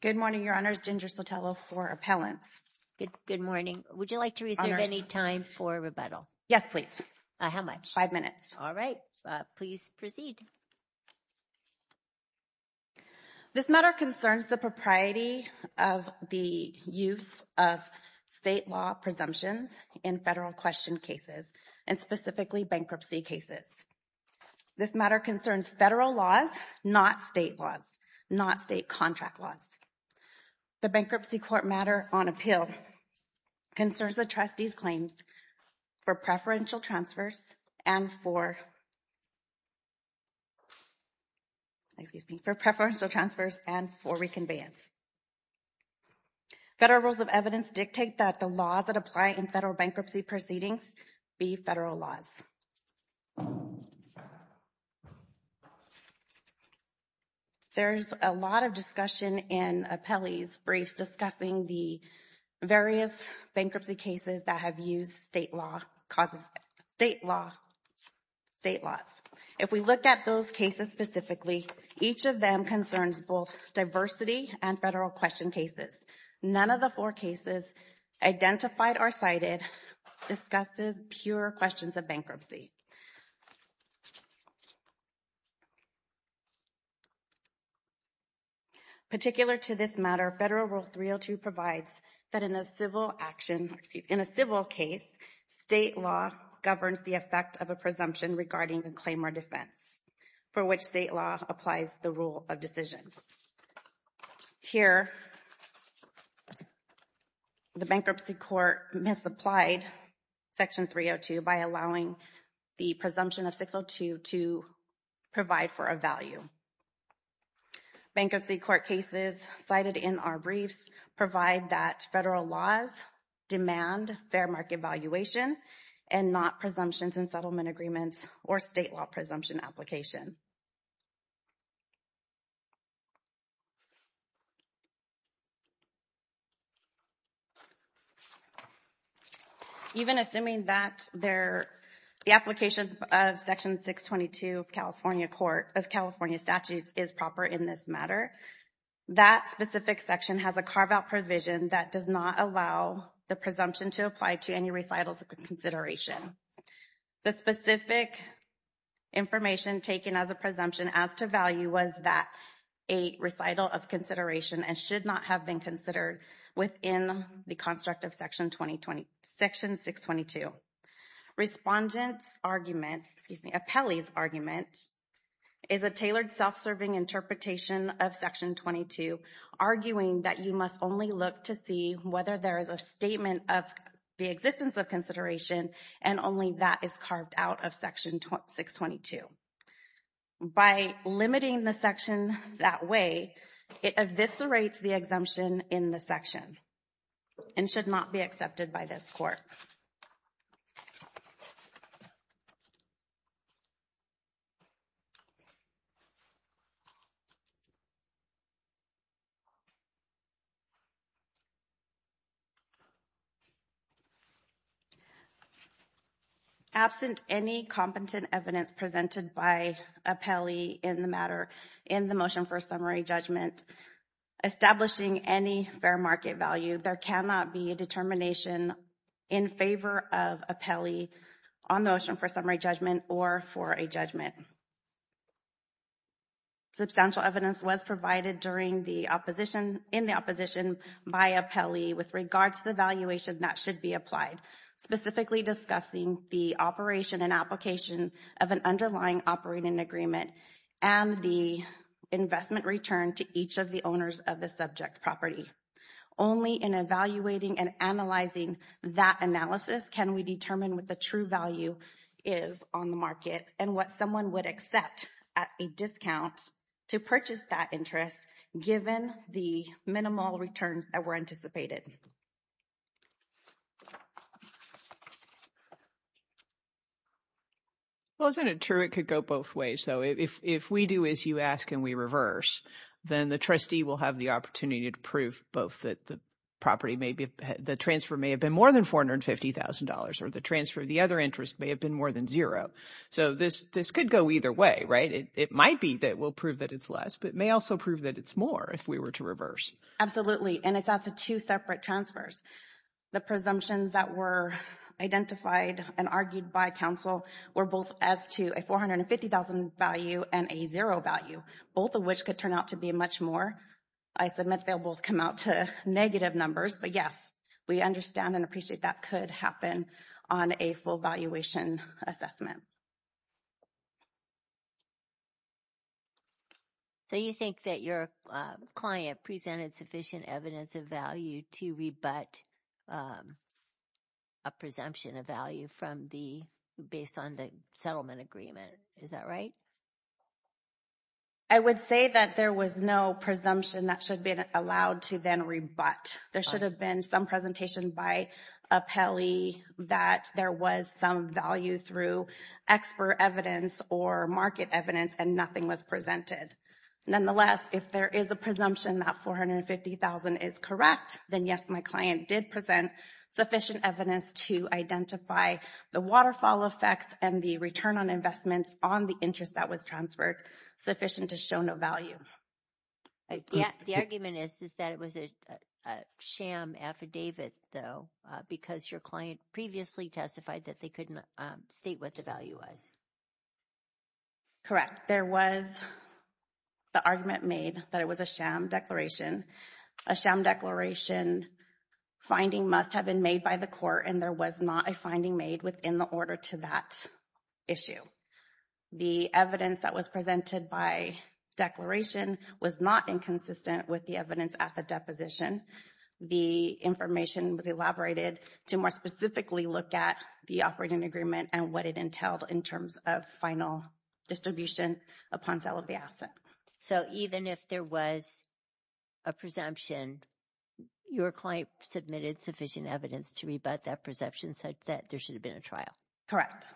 Good morning, Your Honors. Ginger Sotelo for Appellants. Good morning. Would you like to reserve any time for rebuttal? Yes, please. How much? Five minutes. All right, please proceed. This matter concerns the propriety of the use of state law presumptions in federal question cases and specifically bankruptcy cases. This matter concerns federal laws, not state laws, not state contract laws. The Bankruptcy Court matter on appeal concerns the trustee's claims for preferential transfers and for excuse me, for preferential transfers and for reconveyance. Federal rules of evidence dictate that the laws that apply in federal bankruptcy proceedings be federal laws. There's a lot of discussion in appellee's briefs discussing the various bankruptcy cases that have used state law causes, state law state laws. If we look at those cases specifically, each of them concerns both diversity and federal question cases. None of the four cases identified or cited discusses pure questions of bankruptcy. Particular to this matter, Federal Rule 302 provides that in a civil action, excuse me, in a civil case, state law governs the effect of a presumption regarding a claim or defense for which state law applies the rule of decision. Here, the Bankruptcy Court misapplied Section 302 by allowing the presumption of 602 to provide for a value. Bankruptcy Court cases cited in our briefs provide that federal laws demand fair market valuation and not presumptions and settlement agreements or state law presumption application. Even assuming that the application of Section 622 of California Statutes is proper in this matter, that specific section has a carve-out provision that does not allow the presumption to apply to any recitals of consideration. The specific information taken as a presumption as to value was that a recital of consideration and should not have been considered within the construct of Section 622. Respondent's argument, excuse me, appellee's argument is a tailored self-serving interpretation of Section 22 arguing that you must only look to see whether there is a statement of the existence of consideration and only that is carved out of Section 622. By limiting the section that way, it eviscerates the exemption in the section and should not be accepted by this court. Absent any competent evidence presented by appellee in the matter in the motion for summary judgment establishing any fair market value, there cannot be a determination in favor of appellee on motion for summary judgment or for a judgment. Substantial evidence was provided during the opposition, in the opposition by appellee with regards to the valuation that should be applied, specifically discussing the operation and application of an underlying operating agreement and the investment return to each of the owners of the subject property. Only in evaluating and analyzing that analysis can we determine what the true value is on the market and what someone would accept at a discount to purchase that interest given the minimal returns that were anticipated. Well, isn't it true it could go both ways? So if we do, as you ask, and we reverse then the trustee will have the opportunity to prove both that the property may be, the transfer may have been more than $450,000 or the transfer of the other interest may have been more than zero. So this, this could go either way, right? It might be that we'll prove that it's less, but may also prove that it's more if we were to reverse. Absolutely, and it's at the two separate transfers. The presumptions that were identified and argued by counsel were both as to a $450,000 value and a zero value, both of which could turn out to be much more. I submit they'll both come out to negative numbers, but yes, we understand and appreciate that could happen on a full valuation assessment. So, you think that your client presented sufficient evidence of value to rebut a presumption of value from the, based on the settlement agreement. Is that right? I would say that there was no presumption that should be allowed to then rebut. There should have been some presentation by appellee that there was some value through expert evidence or market evidence and nothing was presented. Nonetheless, if there is a presumption that $450,000 is correct, then yes, my client did present sufficient evidence to identify the waterfall effects and the return on investments on the interest that was transferred, sufficient to show no value. The argument is, is that it was a sham affidavit though, because your client previously testified that they couldn't state what the value was. Correct. There was the argument made that it was a sham declaration. A sham declaration finding must have been made by the court and there was not a finding made within the order to that issue. The evidence that was presented by declaration was not inconsistent with the evidence at the deposition. The information was elaborated to more specifically look at the operating agreement and what it entailed in terms of final distribution upon sale of the asset. So, even if there was a presumption, your client submitted sufficient evidence to rebut that perception, such that there should have been a trial. Correct.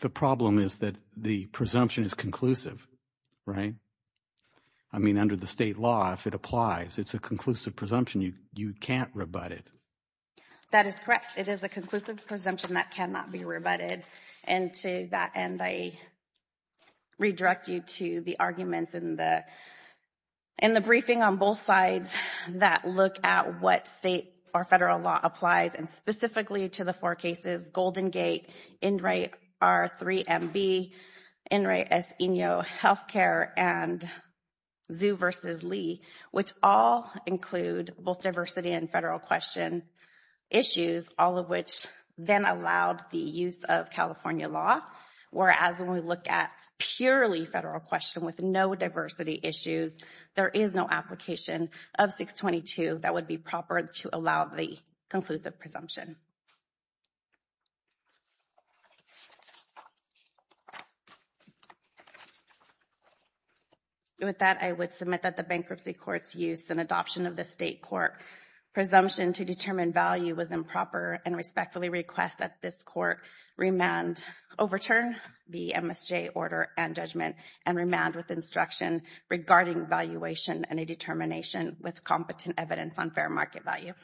The problem is that the presumption is conclusive, right? I mean, under the state law, if it applies, it's a conclusive presumption. You can't rebut it. That is correct. It is a conclusive presumption that cannot be rebutted. And to that end, I redirect you to the arguments in the briefing on both sides that look at what state or federal law applies and specifically to the four cases, Golden Gate, Enright R3MB, Enright S. Eno Healthcare, and Zhu v. Lee, which all include both diversity and federal question issues, all of which then allowed the use of California law, whereas when we look at purely federal question with no diversity issues, there is no application of 622 that would be proper to allow the conclusive presumption. With that, I would submit that the bankruptcy court's use and adoption of the state court presumption to determine value was improper and respectfully request that this court remand, overturn the MSJ order and judgment and remand with instruction regarding valuation and a determination with competent evidence on fair market value.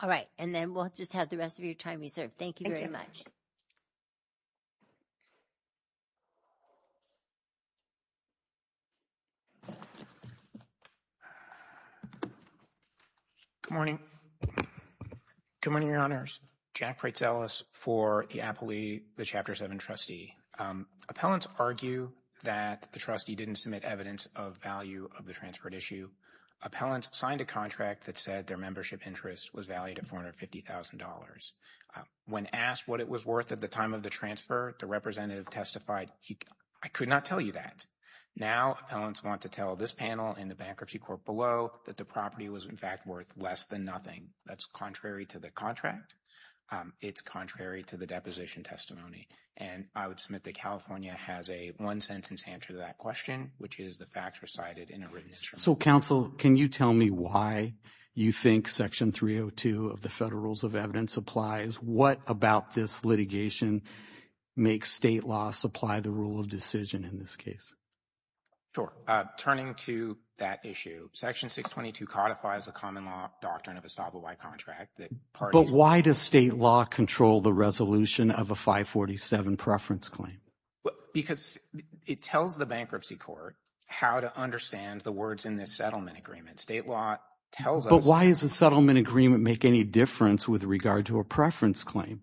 All right, and then we'll just have the rest of your time reserved. Thank you very much. Good morning. Good morning, Your Honors. Jack Pretzellis for the Appley, the Chapter 7 trustee. Appellants argue that the trustee didn't submit evidence of value of the transferred issue. Appellants signed a contract that said their membership interest was valued at $450,000. When asked what it was worth at the time of the transfer, the representative testified, I could not tell you that. Now, appellants want to tell this panel in the bankruptcy court below that the property was in fact worth less than nothing. That's contrary to the contract. It's contrary to the deposition testimony. And I would submit that California has a one-sentence answer to that question, which is the facts recited in a written instrument. So, counsel, can you tell me why you think Section 302 of the Federal Rules of Evidence applies? What about this litigation makes state law supply the rule of decision in this case? Sure. Turning to that issue, Section 622 codifies the common law doctrine of a stop-and-wipe contract. But why does state law control the resolution of a 547 preference claim? Because it tells the bankruptcy court how to understand the words in this settlement agreement. State law tells us. But why does a settlement agreement make any difference with regard to a preference claim?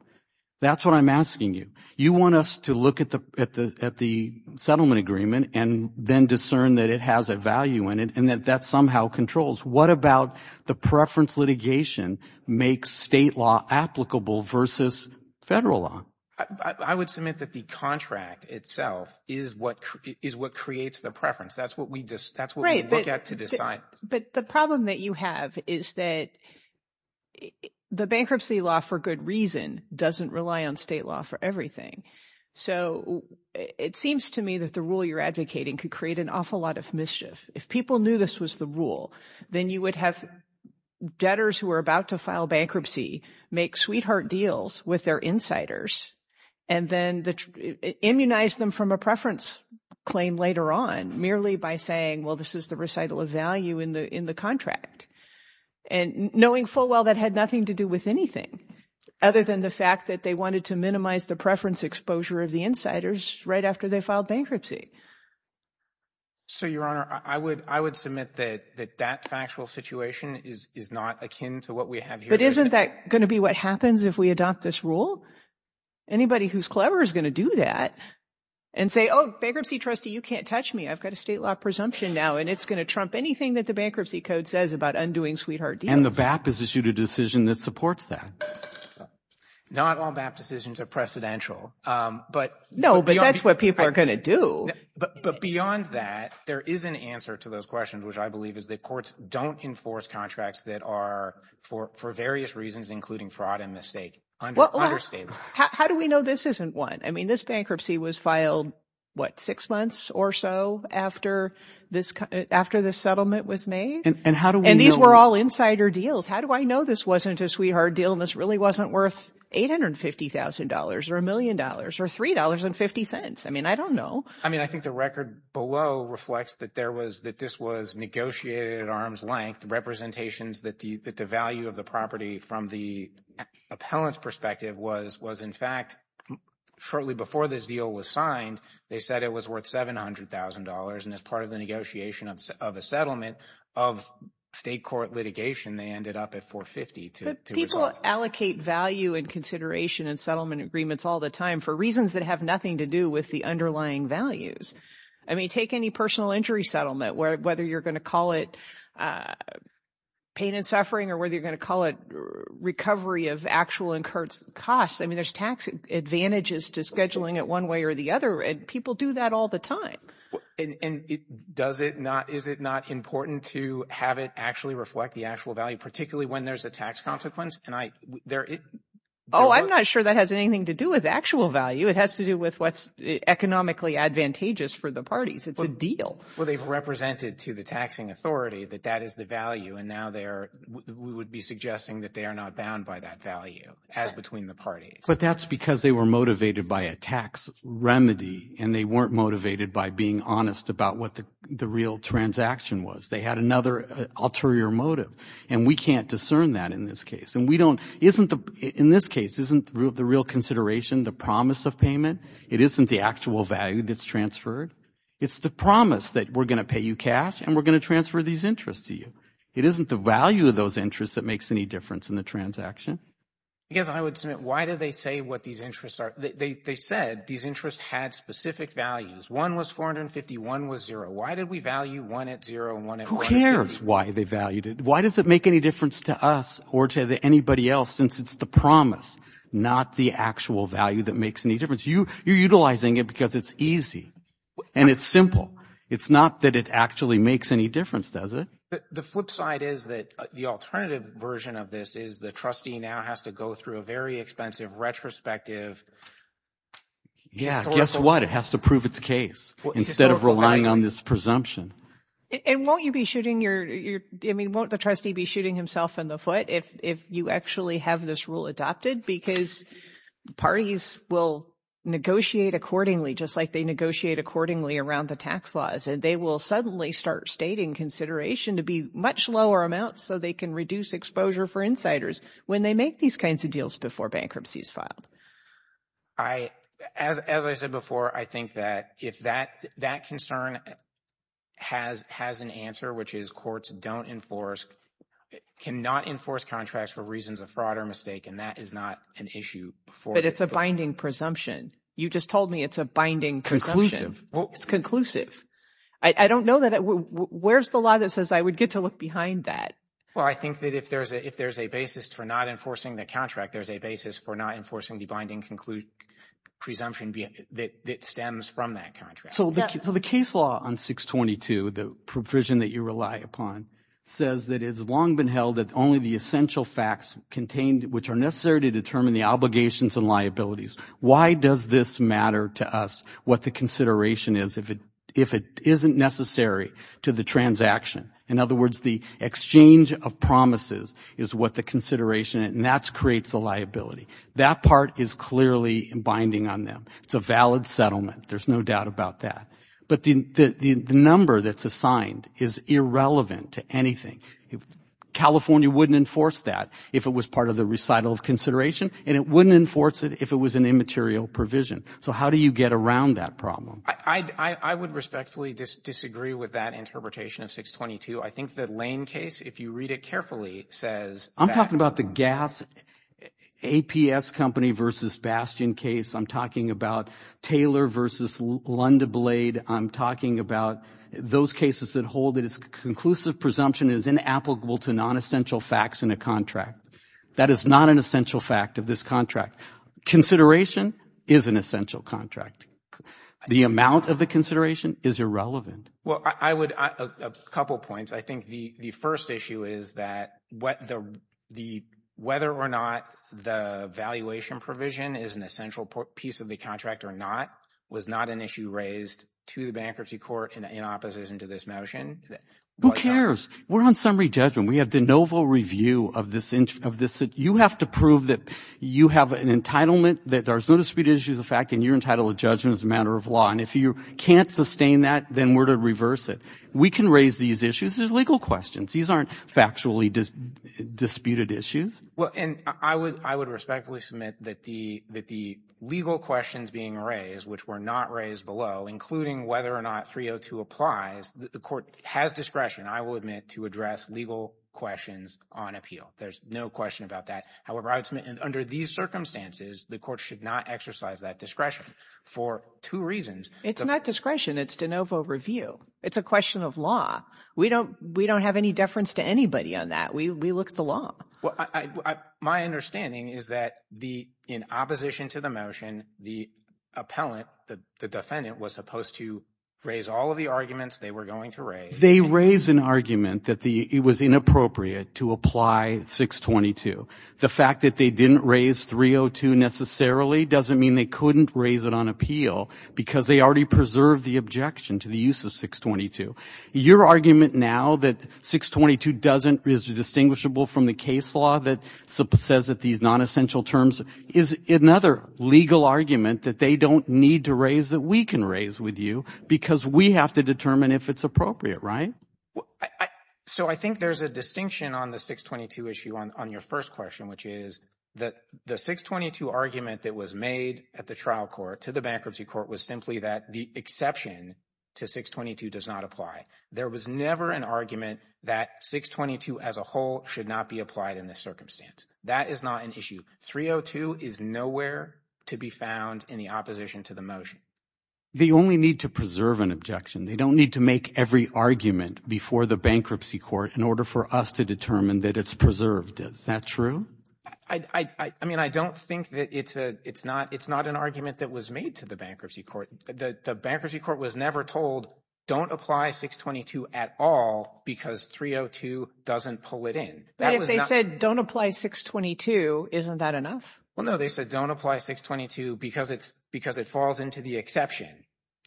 That's what I'm asking you. You want us to look at the settlement agreement and then discern that it has a value in it and that that somehow controls. What about the preference litigation makes state law applicable versus federal law? I would submit that the contract itself is what creates the preference. That's what we look at to decide. But the problem that you have is that the bankruptcy law for good reason doesn't rely on state law for everything. So it seems to me that the rule you're advocating could create an awful lot of mischief. If people knew this was the rule, then you would have debtors who are about to file bankruptcy make sweetheart deals with their insiders and then immunize them from a preference claim later on merely by saying, well, this is the recital of value in the contract. And knowing full well that had nothing to do with anything other than the fact that they wanted to minimize the preference exposure of the insiders right after they filed bankruptcy. So, Your Honor, I would I would submit that that factual situation is is not akin to what we have. But isn't that going to be what happens if we adopt this rule? Anybody who's clever is going to do that and say, oh, bankruptcy trustee, you can't touch me. I've got a state law presumption now and it's going to trump anything that the bankruptcy code says about undoing sweetheart. And the BAP has issued a decision that supports that. Not all BAP decisions are precedential, but. No, but that's what people are going to do. But beyond that, there is an answer to those questions, which I believe is that courts don't enforce contracts that are for for various reasons, including fraud and mistake. How do we know this isn't one? I mean, this bankruptcy was filed, what, six months or so after this after the settlement was made. And how do these were all insider deals? How do I know this wasn't a sweetheart deal? And this really wasn't worth eight hundred fifty thousand dollars or a million dollars or three dollars and fifty cents? I mean, I don't know. I mean, I think the record below reflects that there was that this was negotiated at arm's length representations that the that the value of the property from the appellant's perspective was was, in fact, shortly before this deal was signed, they said it was worth seven hundred thousand dollars. And as part of the negotiation of a settlement of state court litigation, they ended up at 450 to people allocate value and consideration and settlement agreements all the time for reasons that have nothing to do with the underlying values. I mean, take any personal injury settlement, whether you're going to call it pain and suffering or whether you're going to call it recovery of actual incurred costs. I mean, there's tax advantages to scheduling it one way or the other. And people do that all the time. And it does it not. Is it not important to have it actually reflect the actual value, particularly when there's a tax consequence? And I there. Oh, I'm not sure that has anything to do with actual value. It has to do with what's economically advantageous for the parties. It's a deal. Well, they've represented to the taxing authority that that is the value. And now there would be suggesting that they are not bound by that value as between the parties. But that's because they were motivated by a tax remedy and they weren't motivated by being honest about what the real transaction was. They had another ulterior motive. And we can't discern that in this case. And we don't isn't the in this case isn't the real consideration, the promise of payment. It isn't the actual value that's transferred. It's the promise that we're going to pay you cash and we're going to transfer these interests to you. It isn't the value of those interests that makes any difference in the transaction. Because I would say, why do they say what these interests are? They said these interests had specific values. One was 450. One was zero. Why did we value one at zero? One who cares why they valued it? Why does it make any difference to us or to anybody else? Since it's the promise, not the actual value that makes any difference. You you're utilizing it because it's easy and it's simple. It's not that it actually makes any difference, does it? The flip side is that the alternative version of this is the trustee now has to go through a very expensive retrospective. Yeah, guess what? It has to prove its case instead of relying on this presumption. And won't you be shooting your I mean, won't the trustee be shooting himself in the foot if if you actually have this rule adopted? Because parties will negotiate accordingly, just like they negotiate accordingly around the tax laws, and they will suddenly start stating consideration to be much lower amounts so they can reduce exposure for insiders when they make these kinds of deals before bankruptcy is filed. As I said before, I think that if that concern has an answer, which is courts don't enforce, cannot enforce contracts for reasons of fraud or mistake, and that is not an issue. But it's a binding presumption. You just told me it's a binding presumption. It's conclusive. I don't know that. Where's the law that says I would get to behind that? Well, I think that if there's a if there's a basis for not enforcing the contract, there's a basis for not enforcing the binding presumption that stems from that contract. So the case law on 622, the provision that you rely upon, says that it's long been held that only the essential facts contained which are necessary to determine the obligations and liabilities. Why does this matter to us? What the consideration is, if it if it isn't necessary to the transaction. In other words, the exchange of promises is what the consideration and that creates the liability. That part is clearly binding on them. It's a valid settlement. There's no doubt about that. But the number that's assigned is irrelevant to anything. California wouldn't enforce that if it was part of the recital of consideration, and it wouldn't enforce it if it was an immaterial provision. So how do you get around that problem? I would respectfully disagree with that interpretation of 622. I think that Lane case, if you read it carefully, says I'm talking about the gas APS company versus Bastion case. I'm talking about Taylor versus Lunda Blade. I'm talking about those cases that hold that its conclusive presumption is inapplicable to non-essential facts in a contract. That is not an essential fact of this contract. Consideration is an essential contract. The amount of the consideration is irrelevant. Well, I would a couple of points. I think the first issue is that whether or not the valuation provision is an essential piece of the contract or not was not an issue raised to the bankruptcy court in opposition to this motion. Who cares? We're on summary judgment. We have the novel review of this. You have to prove that you have an entitlement that there's no disputed issues of fact, and you're entitled to judgment as a matter of law. And if you can't sustain that, then we're to reverse it. We can raise these issues as legal questions. These aren't factually disputed issues. Well, and I would respectfully submit that the legal questions being raised, which were not raised below, including whether or not 302 applies, the court has discretion, I will admit, to address legal questions on appeal. There's no question about that. However, I would submit under these circumstances, the court should not exercise that discretion for two reasons. It's not discretion. It's de novo review. It's a question of law. We don't have any deference to anybody on that. We look at the law. My understanding is that in opposition to the motion, the appellant, the defendant, was supposed to raise all of the arguments they were going to raise. They raise an argument that it was inappropriate to apply 622. The fact that they didn't raise 302 necessarily doesn't mean they couldn't raise it on appeal because they already preserved the objection to the use of 622. Your argument now that 622 is distinguishable from the case law that says that these non-essential terms is another legal argument that they don't need to raise that we can raise with you because we have to determine if it's appropriate, right? So I think there's a distinction on the 622 issue on your first question, which is that the 622 argument that was made at the trial court to the bankruptcy court was simply that the exception to 622 does not apply. There was never an argument that 622 as a whole should not be applied in this circumstance. That is not an issue. 302 is nowhere to be found in the opposition to the motion. They only need to preserve an objection. They don't need to make every argument before the bankruptcy court in order for us to determine that it's preserved. Is that true? I mean, I don't think that it's not an argument that was made to the bankruptcy court. The bankruptcy court was never told don't apply 622 at all because 302 doesn't pull it in. But if they said don't apply 622, isn't that enough? Well, no, they said don't apply 622 because it's because it falls into the exception.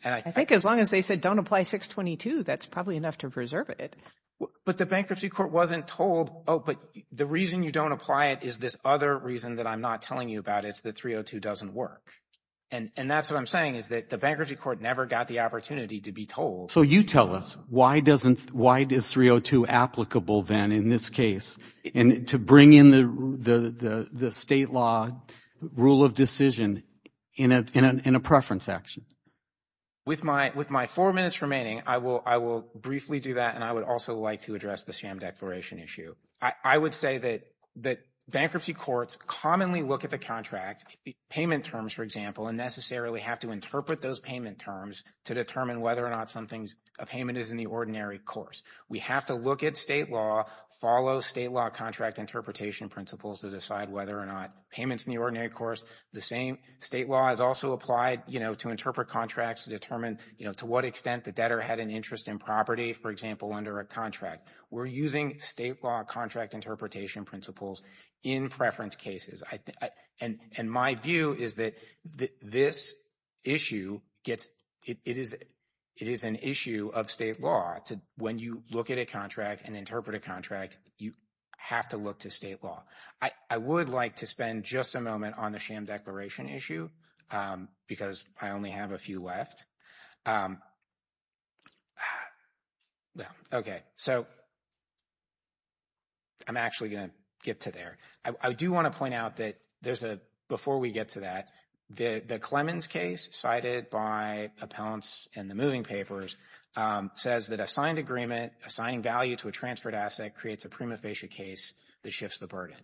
And I think as long as they said don't apply 622, that's probably enough to preserve it. But the bankruptcy court wasn't told, oh, but the reason you don't apply it is this other reason that I'm not telling you about. It's that 302 doesn't work. And that's what I'm saying is that the bankruptcy court never got the opportunity to be told. So you tell us why doesn't why does 302 applicable then in this case and to bring in the state law rule of decision in a preference action? With my four minutes remaining, I will briefly do that. And I would also like to address the sham declaration issue. I would say that bankruptcy courts commonly look at the contract payment terms, for example, and necessarily have to interpret those payment terms to determine whether or not something's a payment is in the ordinary course. We have to look at state law, follow state law contract interpretation principles to decide whether or not payment's in the ordinary course. The same state law is also applied, you know, to interpret contracts to determine, you know, to what extent the debtor had an interest in property, for example, under a contract. We're using state law contract interpretation principles in preference cases. And my view is that this issue gets it is it is an issue of state law when you look at a contract and interpret a contract, you have to look to state law. I would like to spend just a moment on the sham declaration issue because I only have a few left. Okay, so I'm actually going to get to there. I do want to point out that there's a before we get to that, the Clemens case cited by appellants and the moving papers says that a signed agreement assigning value to a transferred asset creates a prima facie case that shifts the burden.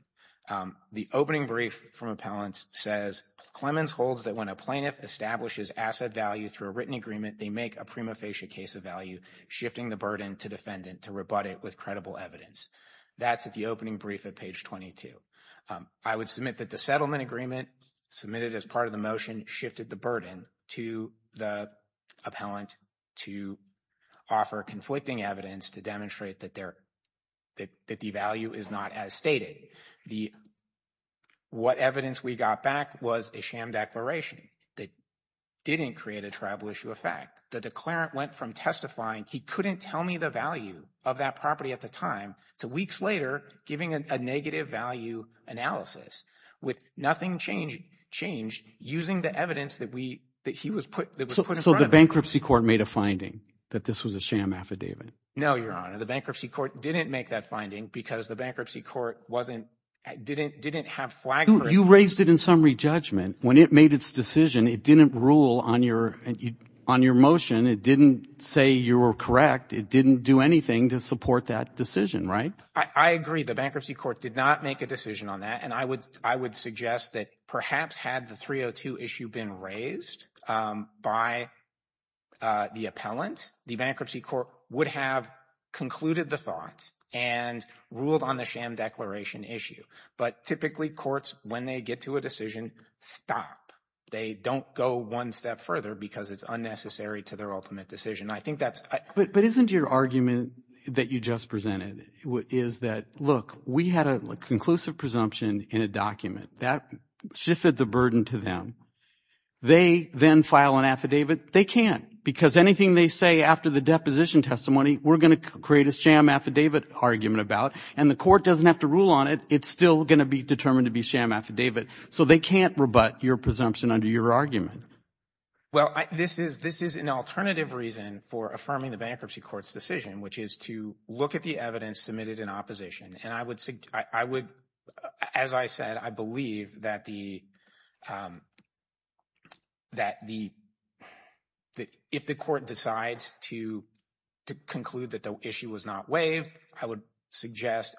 The opening brief from appellants says Clemens holds that when a plaintiff establishes asset value through a written agreement, they make a prima facie case of value, shifting the burden to defendant to rebut it with credible evidence. That's at the opening brief at page 22. I would submit that the settlement agreement submitted as part of the motion shifted the burden to the appellant to offer conflicting evidence to demonstrate that their that the value is not as stated. The what evidence we got back was a sham declaration that didn't create a tribal issue of fact. The declarant went from testifying he couldn't tell me the value of that at the time to weeks later giving a negative value analysis with nothing changed using the evidence that we that he was put. So the bankruptcy court made a finding that this was a sham affidavit? No, your honor, the bankruptcy court didn't make that finding because the bankruptcy court wasn't didn't didn't have flag. You raised it in summary judgment. When it made its decision, it didn't rule on your on your motion. It didn't say you were correct. It didn't do anything to support that decision. Right. I agree. The bankruptcy court did not make a decision on that. And I would I would suggest that perhaps had the 302 issue been raised by the appellant, the bankruptcy court would have concluded the thought and ruled on the sham declaration issue. But typically courts, when they get to a decision, stop, they don't go one step further because it's unnecessary to their ultimate decision. I think that's. But isn't your argument that you just presented is that, look, we had a conclusive presumption in a document that shifted the burden to them. They then file an affidavit. They can't because anything they say after the deposition testimony, we're going to create a sham affidavit argument about and the court doesn't have to rule on it. It's still going to be determined to be sham affidavit. So they can't rebut your presumption under your argument. Well, this is this is an alternative reason for affirming the bankruptcy court's decision, which is to look at the evidence submitted in opposition. And I would I would as I said, I believe that the that the that if the court decides to to conclude that the issue was not waived, I would suggest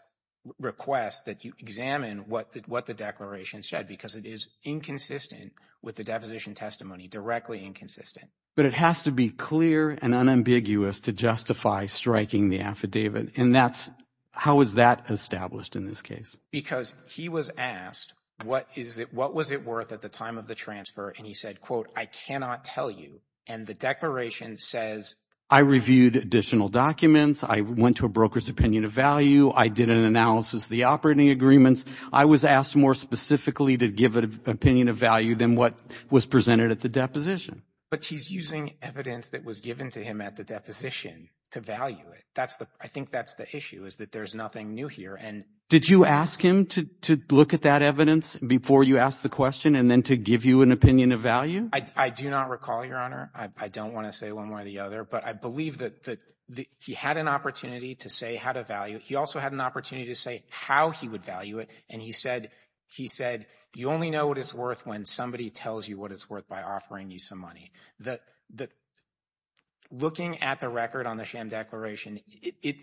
request that you examine what what the declaration said, because it is inconsistent with the deposition testimony, directly inconsistent. But it has to be clear and unambiguous to justify striking the affidavit. And that's how is that established in this case? Because he was asked, what is it? What was it worth at the time of the transfer? And he said, quote, I cannot tell you. And the declaration says I reviewed additional documents. I went to a broker's opinion of value. I did an analysis of the operating agreements. I was asked more specifically to give an opinion of value than what was presented at the deposition. But he's using evidence that was given to him at the deposition to value it. That's the I think that's the issue is that there's nothing new here. And did you ask him to to look at that evidence before you asked the question and then to give you an opinion of value? I do not recall, Your Honor. I don't want to say one way or the other, but I believe that that he had an opportunity to say how to value. He also had an opportunity to say how he would value it. And he said he said you only know what it's worth when somebody tells you what it's worth by offering you some money that that. Looking at the record on the sham declaration, it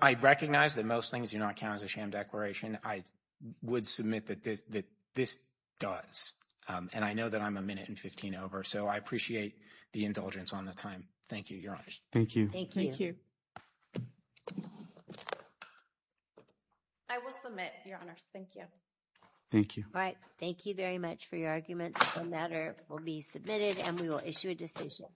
I recognize that most things do not count as a sham declaration. I would submit that that this does. And I know that I'm a minute and 15 over. So I appreciate the indulgence on the time. Thank you, Your Honor. Thank you. Thank you. I will submit, Your Honors. Thank you. Thank you. All right. Thank you very much for your argument. The matter will be submitted and we will issue a decision.